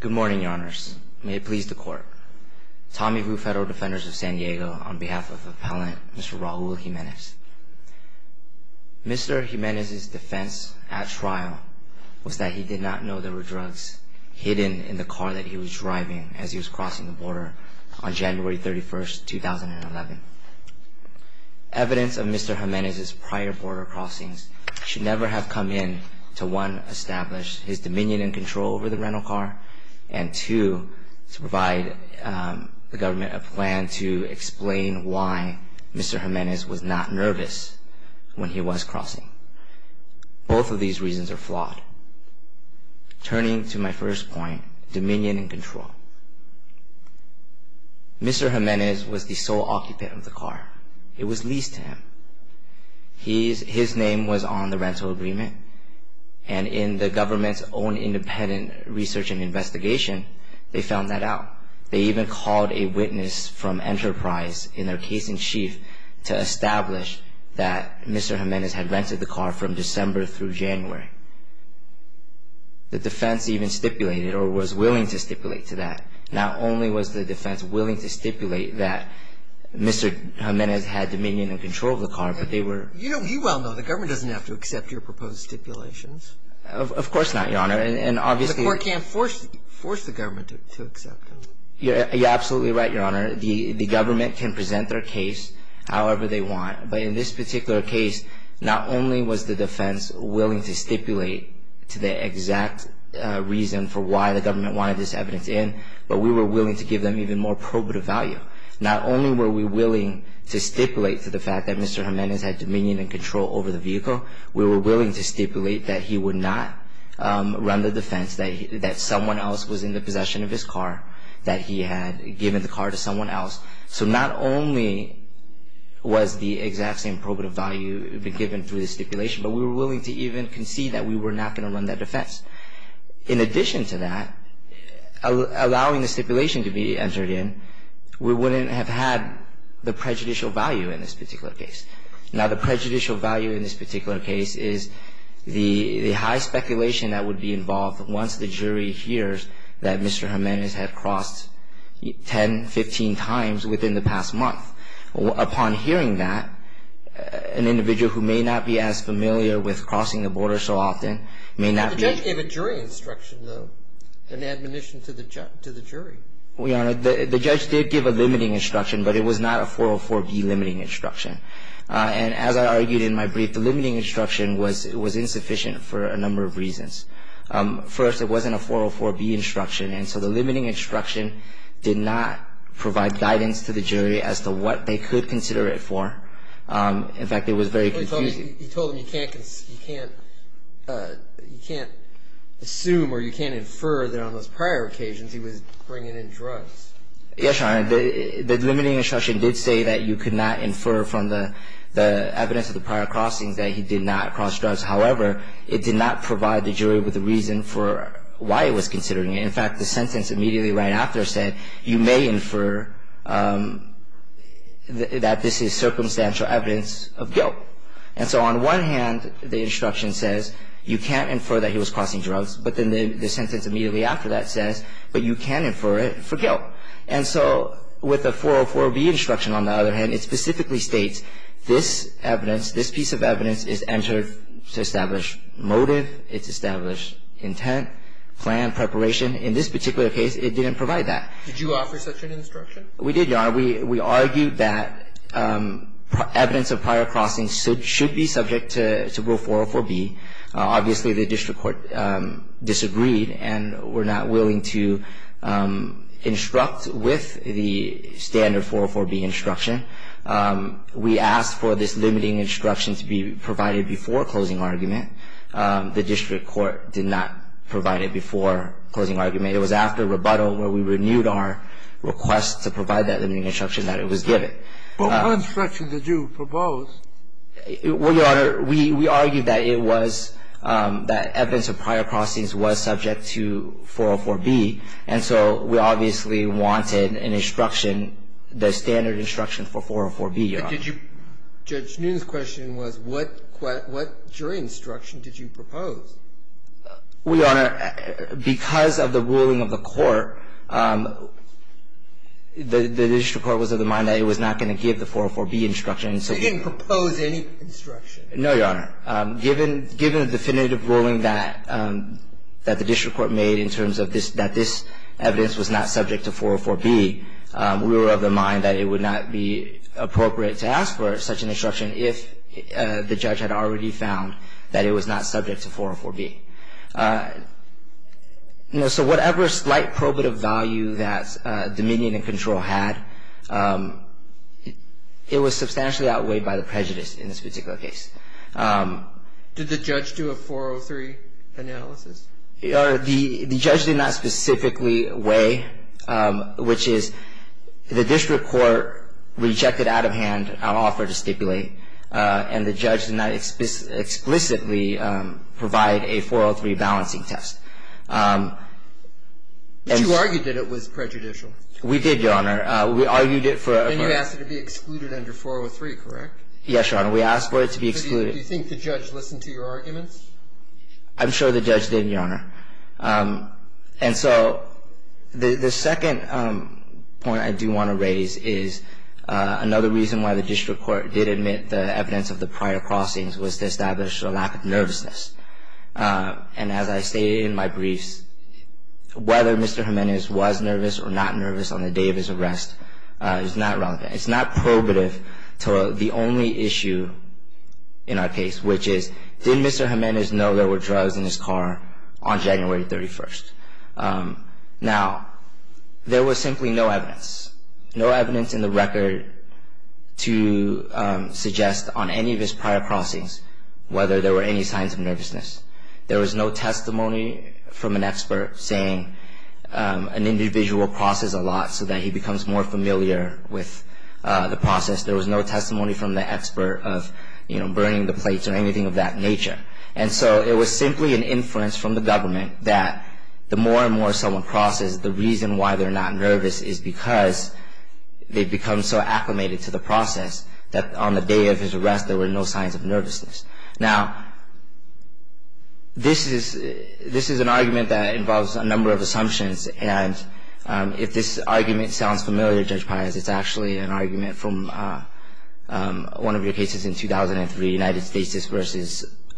Good morning, your honors. May it please the court. Tommy Vu, Federal Defenders of San Diego, on behalf of Appellant Mr. Raul Jimenez. Mr. Jimenez's defense at trial was that he did not know there were drugs hidden in the car that he was driving as he was crossing the border on January 31st, 2011. Evidence of Mr. Jimenez's prior border crossings should never have come in to 1. establish his dominion and control over the rental car, and 2. to provide the government a plan to explain why Mr. Jimenez was not nervous when he was crossing. Both of these reasons are flawed. Turning to my first point, dominion and control. Mr. Jimenez was the sole occupant of the car. It was leased to him. His name was on the rental agreement, and in the government's own independent research and investigation, they found that out. They even called a witness from Enterprise, in their case in chief, to establish that Mr. Jimenez had rented the car from December through January. The defense even stipulated or was willing to stipulate to that. Not only was the defense willing to stipulate that Mr. Jimenez had dominion and control of the car, but they were... You well know the government doesn't have to accept your proposed stipulations. Of course not, Your Honor, and obviously... The court can't force the government to accept them. You're absolutely right, Your Honor. The government can present their case however they want, but in this particular case, not only was the defense willing to stipulate to the exact reason for why the government wanted this evidence in, but we were willing to give them even more probative value. Not only were we willing to stipulate to the fact that Mr. Jimenez had dominion and control over the vehicle, we were willing to stipulate that he would not run the defense, that someone else was in the possession of his car, that he had given the car to someone else. So not only was the exact same probative value given through the stipulation, but we were willing to even concede that we were not going to run that defense. In addition to that, allowing the stipulation to be entered in, we wouldn't have had the prejudicial value in this particular case. Now, the prejudicial value in this particular case is the high speculation that would be involved once the jury hears that Mr. Jimenez had crossed 10, 15 times within the past month. Upon hearing that, an individual who may not be as familiar with crossing the border so often may not be The judge gave a jury instruction though, an admonition to the jury. Well, Your Honor, the judge did give a limiting instruction, but it was not a 404B limiting instruction. And as I argued in my brief, the limiting instruction was insufficient for a number of reasons. First, it wasn't a 404B instruction. And so the limiting instruction did not provide guidance to the jury as to what they could consider it for. In fact, it was very confusing. You told him you can't assume or you can't infer that on those prior occasions he was bringing in drugs. Yes, Your Honor. The limiting instruction did say that you could not infer from the evidence of the prior crossings that he did not cross drugs. However, it did not provide the jury with a reason for why it was considering it. In fact, the sentence immediately right after said you may infer that this is circumstantial evidence of guilt. And so on one hand, the instruction says you can't infer that he was crossing drugs. But then the sentence immediately after that says, but you can infer it for guilt. And so with the 404B instruction, on the other hand, it specifically states this evidence, this evidence is entered to establish motive. It's established intent, plan, preparation. In this particular case, it didn't provide that. Did you offer such an instruction? We did, Your Honor. We argued that evidence of prior crossings should be subject to Rule 404B. Obviously, the district court disagreed and were not willing to instruct with the standard 404B instruction. We asked for this limiting instruction to be provided before closing argument. The district court did not provide it before closing argument. It was after rebuttal where we renewed our request to provide that limiting instruction that it was given. But what instruction did you propose? Well, Your Honor, we argued that it was that evidence of prior crossings was subject to 404B. And so we obviously wanted an instruction, the standard instruction for 404B, Your Honor. But did you – Judge Noonan's question was what jury instruction did you propose? Well, Your Honor, because of the ruling of the court, the district court was of the mind that it was not going to give the 404B instruction. So you didn't propose any instruction? No, Your Honor. Given the definitive ruling that the district court made in terms of this, that this evidence was not subject to 404B, we were of the mind that it would not be appropriate to ask for such an instruction if the judge had already found that it was not subject to 404B. So whatever slight probative value that dominion and control had, it was substantially outweighed by the prejudice in this particular case. Did the judge do a 403 analysis? Your Honor, the judge did not specifically weigh, which is the district court rejected out of hand our offer to stipulate, and the judge did not explicitly provide a 403 balancing test. But you argued that it was prejudicial. We did, Your Honor. We argued it for a – And you asked it to be excluded under 403, correct? Yes, Your Honor. We asked for it to be excluded. Do you think the judge listened to your arguments? I'm sure the judge did, Your Honor. And so the second point I do want to raise is another reason why the district court did admit the evidence of the prior crossings was to establish a lack of nervousness. And as I stated in my briefs, whether Mr. Jimenez was nervous or not nervous on the day of his arrest is not relevant. It's not probative to the only issue in our case, which is, did Mr. Jimenez know there were drugs in his car on January 31st? Now, there was simply no evidence, no evidence in the record to suggest on any of his prior crossings whether there were any signs of nervousness. There was no testimony from an expert saying an individual crosses a lot so that he becomes more familiar with the process. There was no testimony from the expert of, you know, burning the plates or anything of that nature. And so it was simply an inference from the government that the more and more someone crosses, the reason why they're not nervous is because they've become so acclimated to the process that on the day of his arrest there were no signs of nervousness. Now, this is an argument that involves a number of assumptions. And if this argument sounds familiar, Judge Paez, it's actually an argument from one of your cases in 2003, United States v.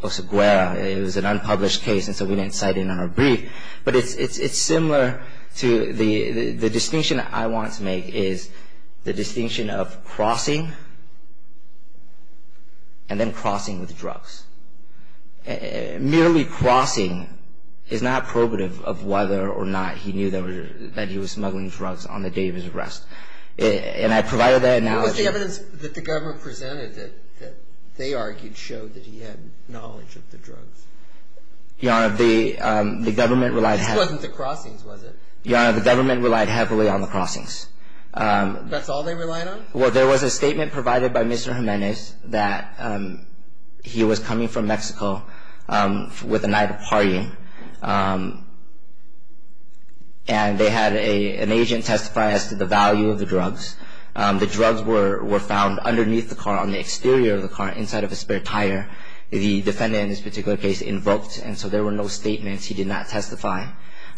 Oseguera. It was an unpublished case and so we didn't cite it in our brief. But it's similar to the distinction I want to make is the distinction of crossing and then crossing with drugs. Merely crossing is not probative of whether or not he knew that he was smuggling drugs on the day of his arrest. And I provided that analogy. What was the evidence that the government presented that they argued showed that he had knowledge of the drugs? Your Honor, the government relied heavily. This wasn't the crossings, was it? Your Honor, the government relied heavily on the crossings. That's all they relied on? Well, there was a statement provided by Mr. Jimenez that he was coming from Mexico with a night of partying. And they had an agent testify as to the value of the drugs. The drugs were found underneath the car, on the exterior of the car, inside of a spare tire. The defendant in this particular case invoked and so there were no statements. He did not testify.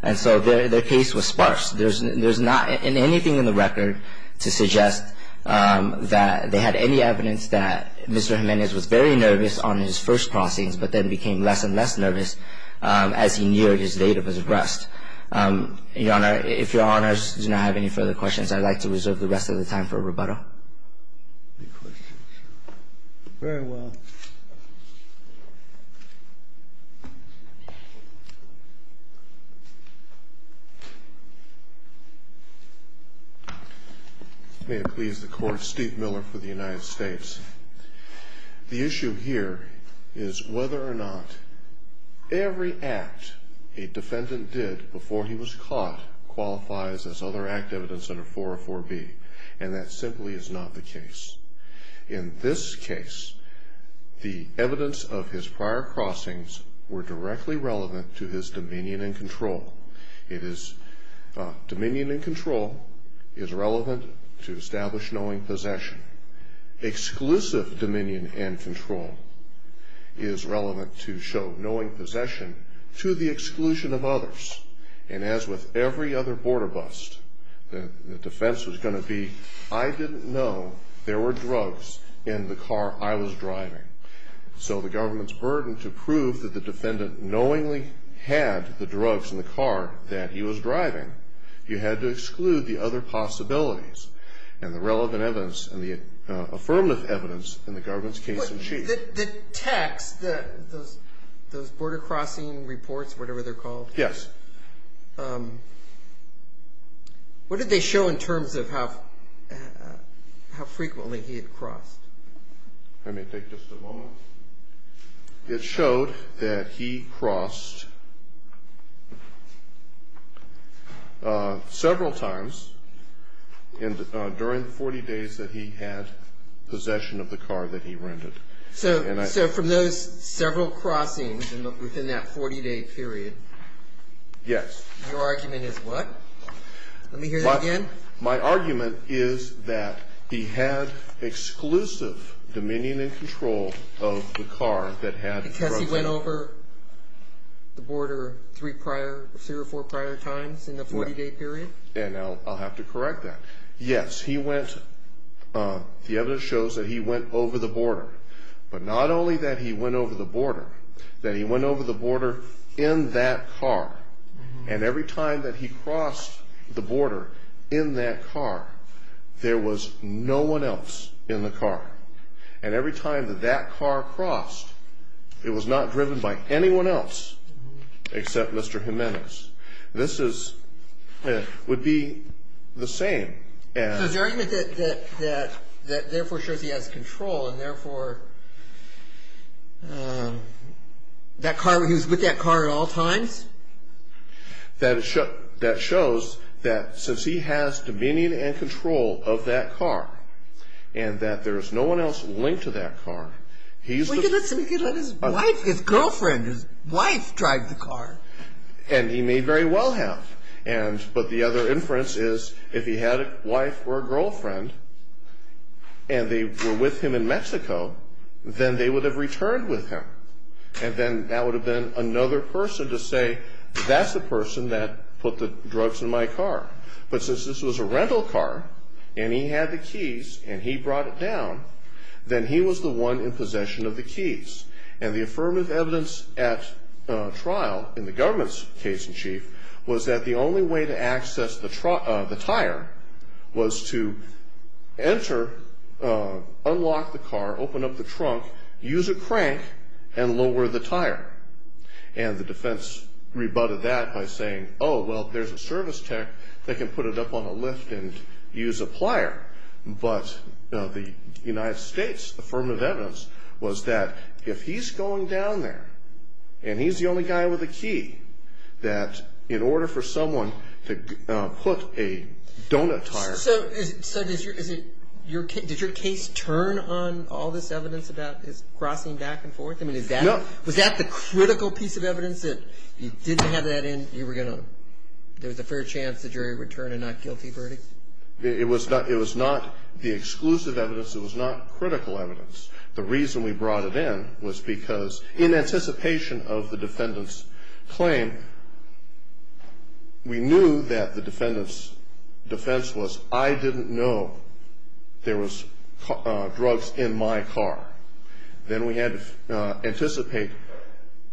And so their case was sparse. There's not anything in the record to suggest that they had any evidence that Mr. Jimenez was very nervous on his first crossings but then became less and less nervous as he neared his date of his arrest. Your Honor, if Your Honors do not have any further questions, I'd like to reserve the rest of the time for rebuttal. Any questions? Very well. May it please the Court, Steve Miller for the United States. The issue here is whether or not every act a defendant did before he was caught qualifies as other act evidence under 404B and that simply is not the case. In this case, the evidence of his prior crossings were directly relevant to his dominion and control. Dominion and control is relevant to establish knowing possession. Exclusive dominion and control is relevant to show knowing possession to the exclusion of others. And as with every other border bust, the defense was going to be, I didn't know there were drugs in the car I was driving. So the government's burden to prove that the defendant knowingly had the drugs in the car that he was driving, you had to exclude the other possibilities and the relevant evidence and the affirmative evidence in the government's case in chief. The text, those border crossing reports, whatever they're called. Yes. What did they show in terms of how frequently he had crossed? Let me take just a moment. It showed that he crossed several times during the 40 days that he had possession of the car that he rented. So from those several crossings within that 40-day period. Yes. Your argument is what? Let me hear that again. My argument is that he had exclusive dominion and control of the car that had drugs in it. Because he went over the border three prior, three or four prior times in the 40-day period? And I'll have to correct that. Yes, he went, the evidence shows that he went over the border. But not only that he went over the border, that he went over the border in that car. And every time that he crossed the border in that car, there was no one else in the car. And every time that that car crossed, it was not driven by anyone else except Mr. Jimenez. This is, would be the same as. So is your argument that therefore shows he has control and therefore that car, he was with that car at all times? That shows that since he has dominion and control of that car and that there is no one else linked to that car. He could let his wife, his girlfriend, his wife drive the car. And he may very well have. And, but the other inference is if he had a wife or a girlfriend and they were with him in Mexico, then they would have returned with him. And then that would have been another person to say, that's the person that put the drugs in my car. But since this was a rental car and he had the keys and he brought it down, then he was the one in possession of the keys. And the affirmative evidence at trial in the government's case in chief was that the only way to access the tire was to enter, unlock the car, open up the trunk, use a crank and lower the tire. And the defense rebutted that by saying, oh, well, there's a service tech that can put it up on a lift and use a plier. But the United States affirmative evidence was that if he's going down there and he's the only guy with a key, that in order for someone to put a donut tire. So did your case turn on all this evidence about his crossing back and forth? I mean, is that, was that the critical piece of evidence that you didn't have that in? You were going to, there was a fair chance the jury would turn a not guilty verdict? It was not the exclusive evidence. It was not critical evidence. The reason we brought it in was because in anticipation of the defendant's claim, we knew that the defendant's defense was I didn't know there was drugs in my car. Then we had to anticipate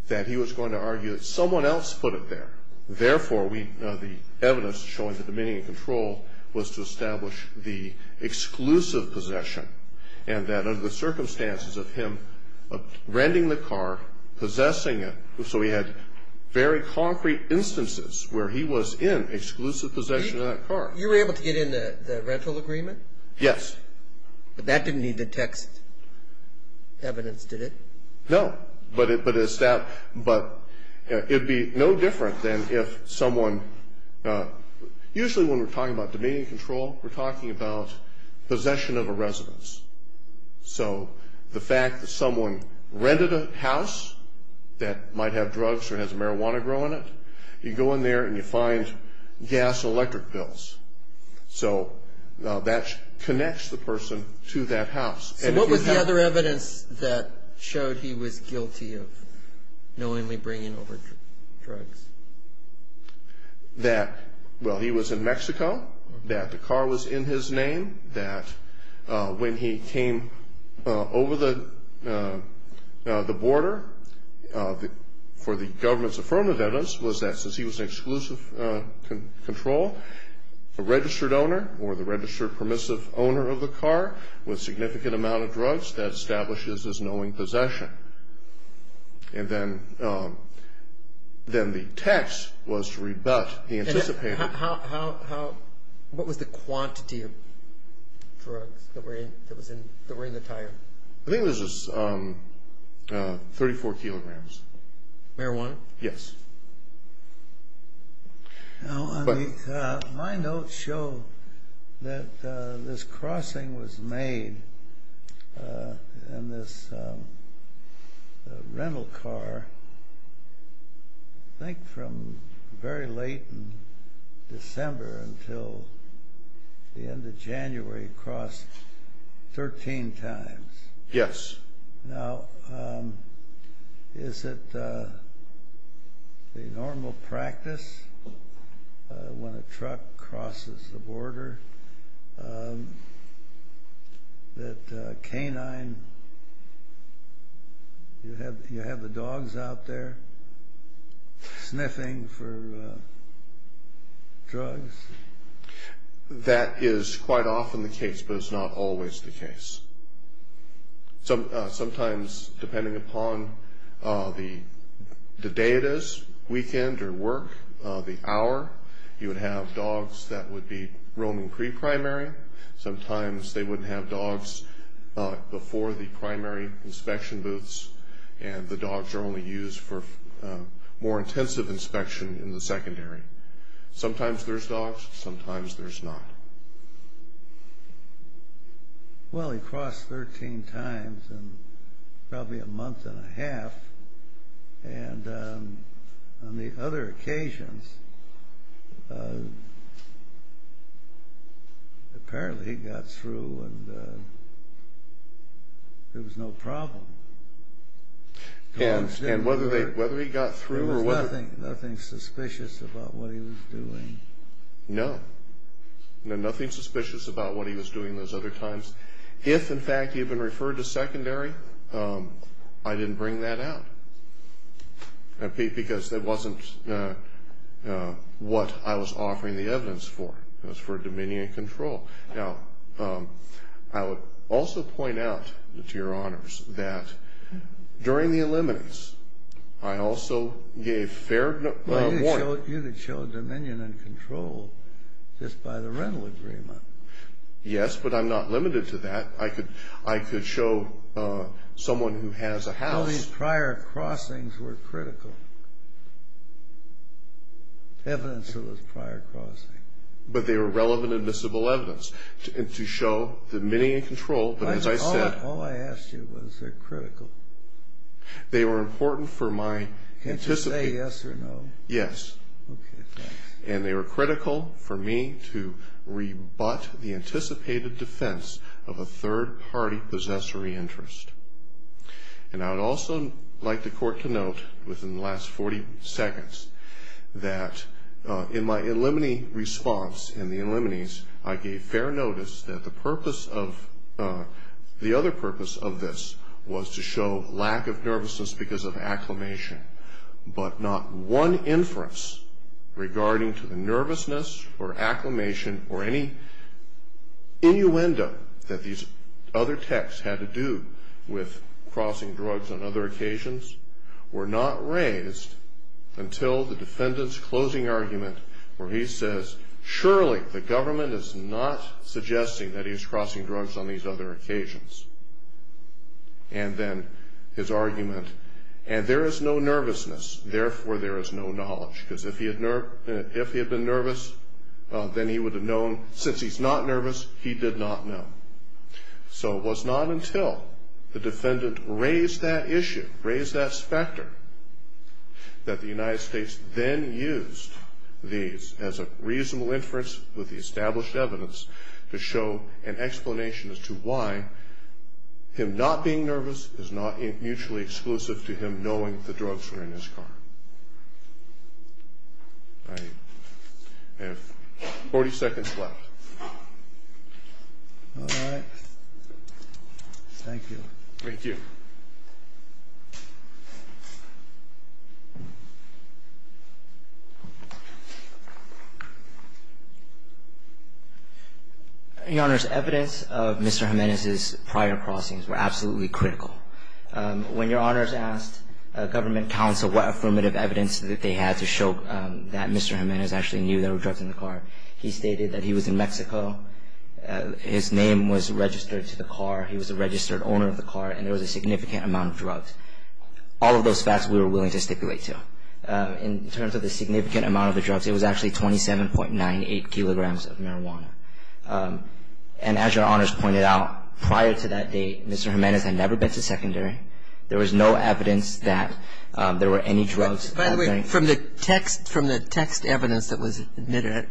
that he was going to argue that someone else put it there. Therefore, we, the evidence showing that the meaning of control was to establish the exclusive possession. And that under the circumstances of him renting the car, possessing it, so we had very concrete instances where he was in exclusive possession of that car. You were able to get in the rental agreement? Yes. But that didn't need the text evidence, did it? No. But it would be no different than if someone, usually when we're talking about dominion control, we're talking about possession of a residence. So the fact that someone rented a house that might have drugs or has marijuana growing in it, you go in there and you find gas and electric bills. So that connects the person to that house. So what was the other evidence that showed he was guilty of knowingly bringing over drugs? That, well, he was in Mexico, that the car was in his name, that when he came over the border, for the government's affirmative evidence, was that since he was in exclusive control, a registered owner or the registered permissive owner of the car with significant amount of drugs, that establishes his knowing possession. And then the text was to rebut the anticipated... What was the quantity of drugs that were in the tire? I think it was just 34 kilograms. Marijuana? Yes. Now, my notes show that this crossing was made in this rental car, I think from very late in December until the end of January, across 13 times. Yes. Now, is it a normal practice when a truck crosses the border, that canine, you have the dogs out there sniffing for drugs? That is quite often the case, but it's not always the case. Sometimes, depending upon the day it is, weekend or work, the hour, you would have dogs that would be roaming pre-primary, sometimes they would have dogs before the primary inspection booths, and the dogs are only used for more intensive inspection in the secondary. Sometimes there's dogs, sometimes there's not. Well, he crossed 13 times in probably a month and a half, and on the other occasions, apparently he got through and there was no problem. And whether he got through or whether... There was nothing suspicious about what he was doing. No. No, nothing suspicious about what he was doing those other times. If, in fact, he had been referred to secondary, I didn't bring that out, because that wasn't what I was offering the evidence for. It was for dominion and control. Now, I would also point out, to your honors, that during the eliminates, I also gave fair warning. Well, you could show dominion and control just by the rental agreement. Yes, but I'm not limited to that. I could show someone who has a house... All these prior crossings were critical, evidence of those prior crossings. But they were relevant admissible evidence to show dominion and control, but as I said... All I asked you was they're critical. They were important for my... Can't you say yes or no? Yes. Okay, thanks. And they were critical for me to rebut the anticipated defense of a third-party possessory interest. And I would also like the court to note, within the last 40 seconds, that in my eliminate response, in the eliminates, I gave fair notice that the other purpose of this was to show lack of nervousness because of acclimation. But not one inference regarding to the nervousness or acclimation or any innuendo that these other texts had to do with crossing drugs on other occasions were not raised until the defendant's closing argument, where he says, surely the government is not suggesting that he's crossing drugs on these other occasions. And then his argument, and there is no nervousness, therefore there is no knowledge. Because if he had been nervous, then he would have known. Since he's not nervous, he did not know. So it was not until the defendant raised that issue, raised that factor, that the United States then used these as a reasonable inference with the established evidence to show an explanation as to why him not being nervous is not mutually exclusive to him knowing the drugs were in his car. I have 40 seconds left. All right. Thank you. Thank you. Your Honors, evidence of Mr. Jimenez's prior crossings were absolutely critical. When Your Honors asked government counsel what affirmative evidence that they had to show that Mr. Jimenez actually knew there were drugs in the car, he stated that he was in Mexico, his name was registered to the car, he was a registered owner of the car, and there was a significant amount of drugs. All of those facts we were willing to stipulate, too. In terms of the significant amount of the drugs, it was actually 27.98 kilograms of marijuana. And as Your Honors pointed out, prior to that date, Mr. Jimenez had never been to secondary. There was no evidence that there were any drugs. By the way, from the text evidence that was admitted,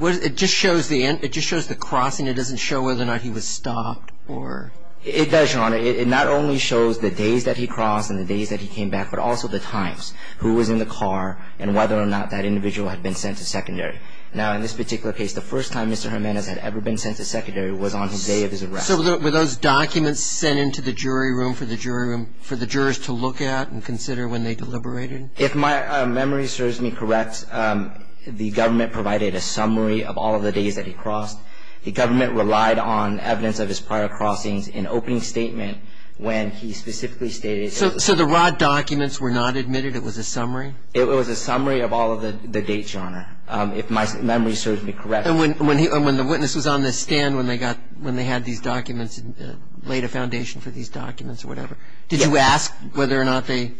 it just shows the crossing. It doesn't show whether or not he was stopped or... It does, Your Honor. It not only shows the days that he crossed and the days that he came back, but also the times, who was in the car, and whether or not that individual had been sent to secondary. Now, in this particular case, the first time Mr. Jimenez had ever been sent to secondary was on the day of his arrest. So were those documents sent into the jury room for the jurors to look at and consider when they deliberated? If my memory serves me correct, the government provided a summary of all of the days that he crossed. The government relied on evidence of his prior crossings in opening statement when he specifically stated... So the raw documents were not admitted? It was a summary? It was a summary of all of the dates, Your Honor, if my memory serves me correct. And when the witness was on the stand when they had these documents and laid a foundation for these documents or whatever, did you ask whether or not they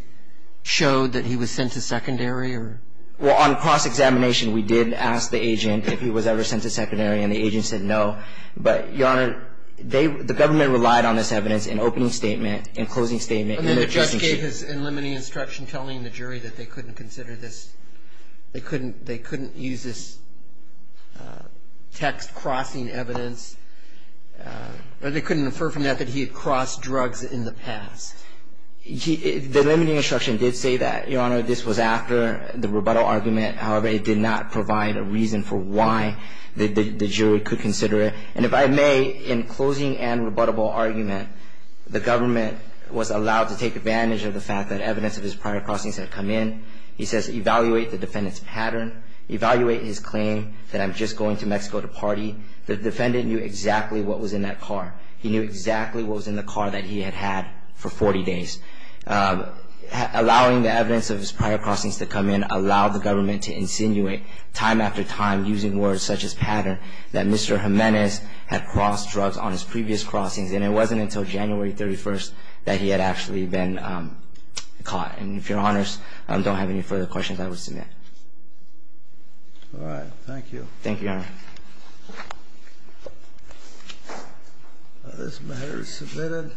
showed that he was sent to secondary? Well, on cross-examination, we did ask the agent if he was ever sent to secondary, and the agent said no. But, Your Honor, the government relied on this evidence in opening statement, in closing statement... And then the judge gave his limiting instruction telling the jury that they couldn't consider this. They couldn't use this text crossing evidence, or they couldn't infer from that that he had crossed drugs in the past. The limiting instruction did say that, Your Honor. This was after the rebuttal argument. However, it did not provide a reason for why the jury could consider it. And if I may, in closing and rebuttable argument, the government was allowed to take advantage of the fact that evidence of his prior crossings had come in. He says, evaluate the defendant's pattern. Evaluate his claim that I'm just going to Mexico to party. The defendant knew exactly what was in that car. He knew exactly what was in the car that he had had for 40 days. Allowing the evidence of his prior crossings to come in allowed the government to insinuate, time after time, using words such as pattern, that Mr. Jimenez had crossed drugs on his previous crossings. And it wasn't until January 31st that he had actually been caught. And if Your Honors don't have any further questions, I will submit. All right. Thank you. Thank you, Your Honor. This matter is submitted.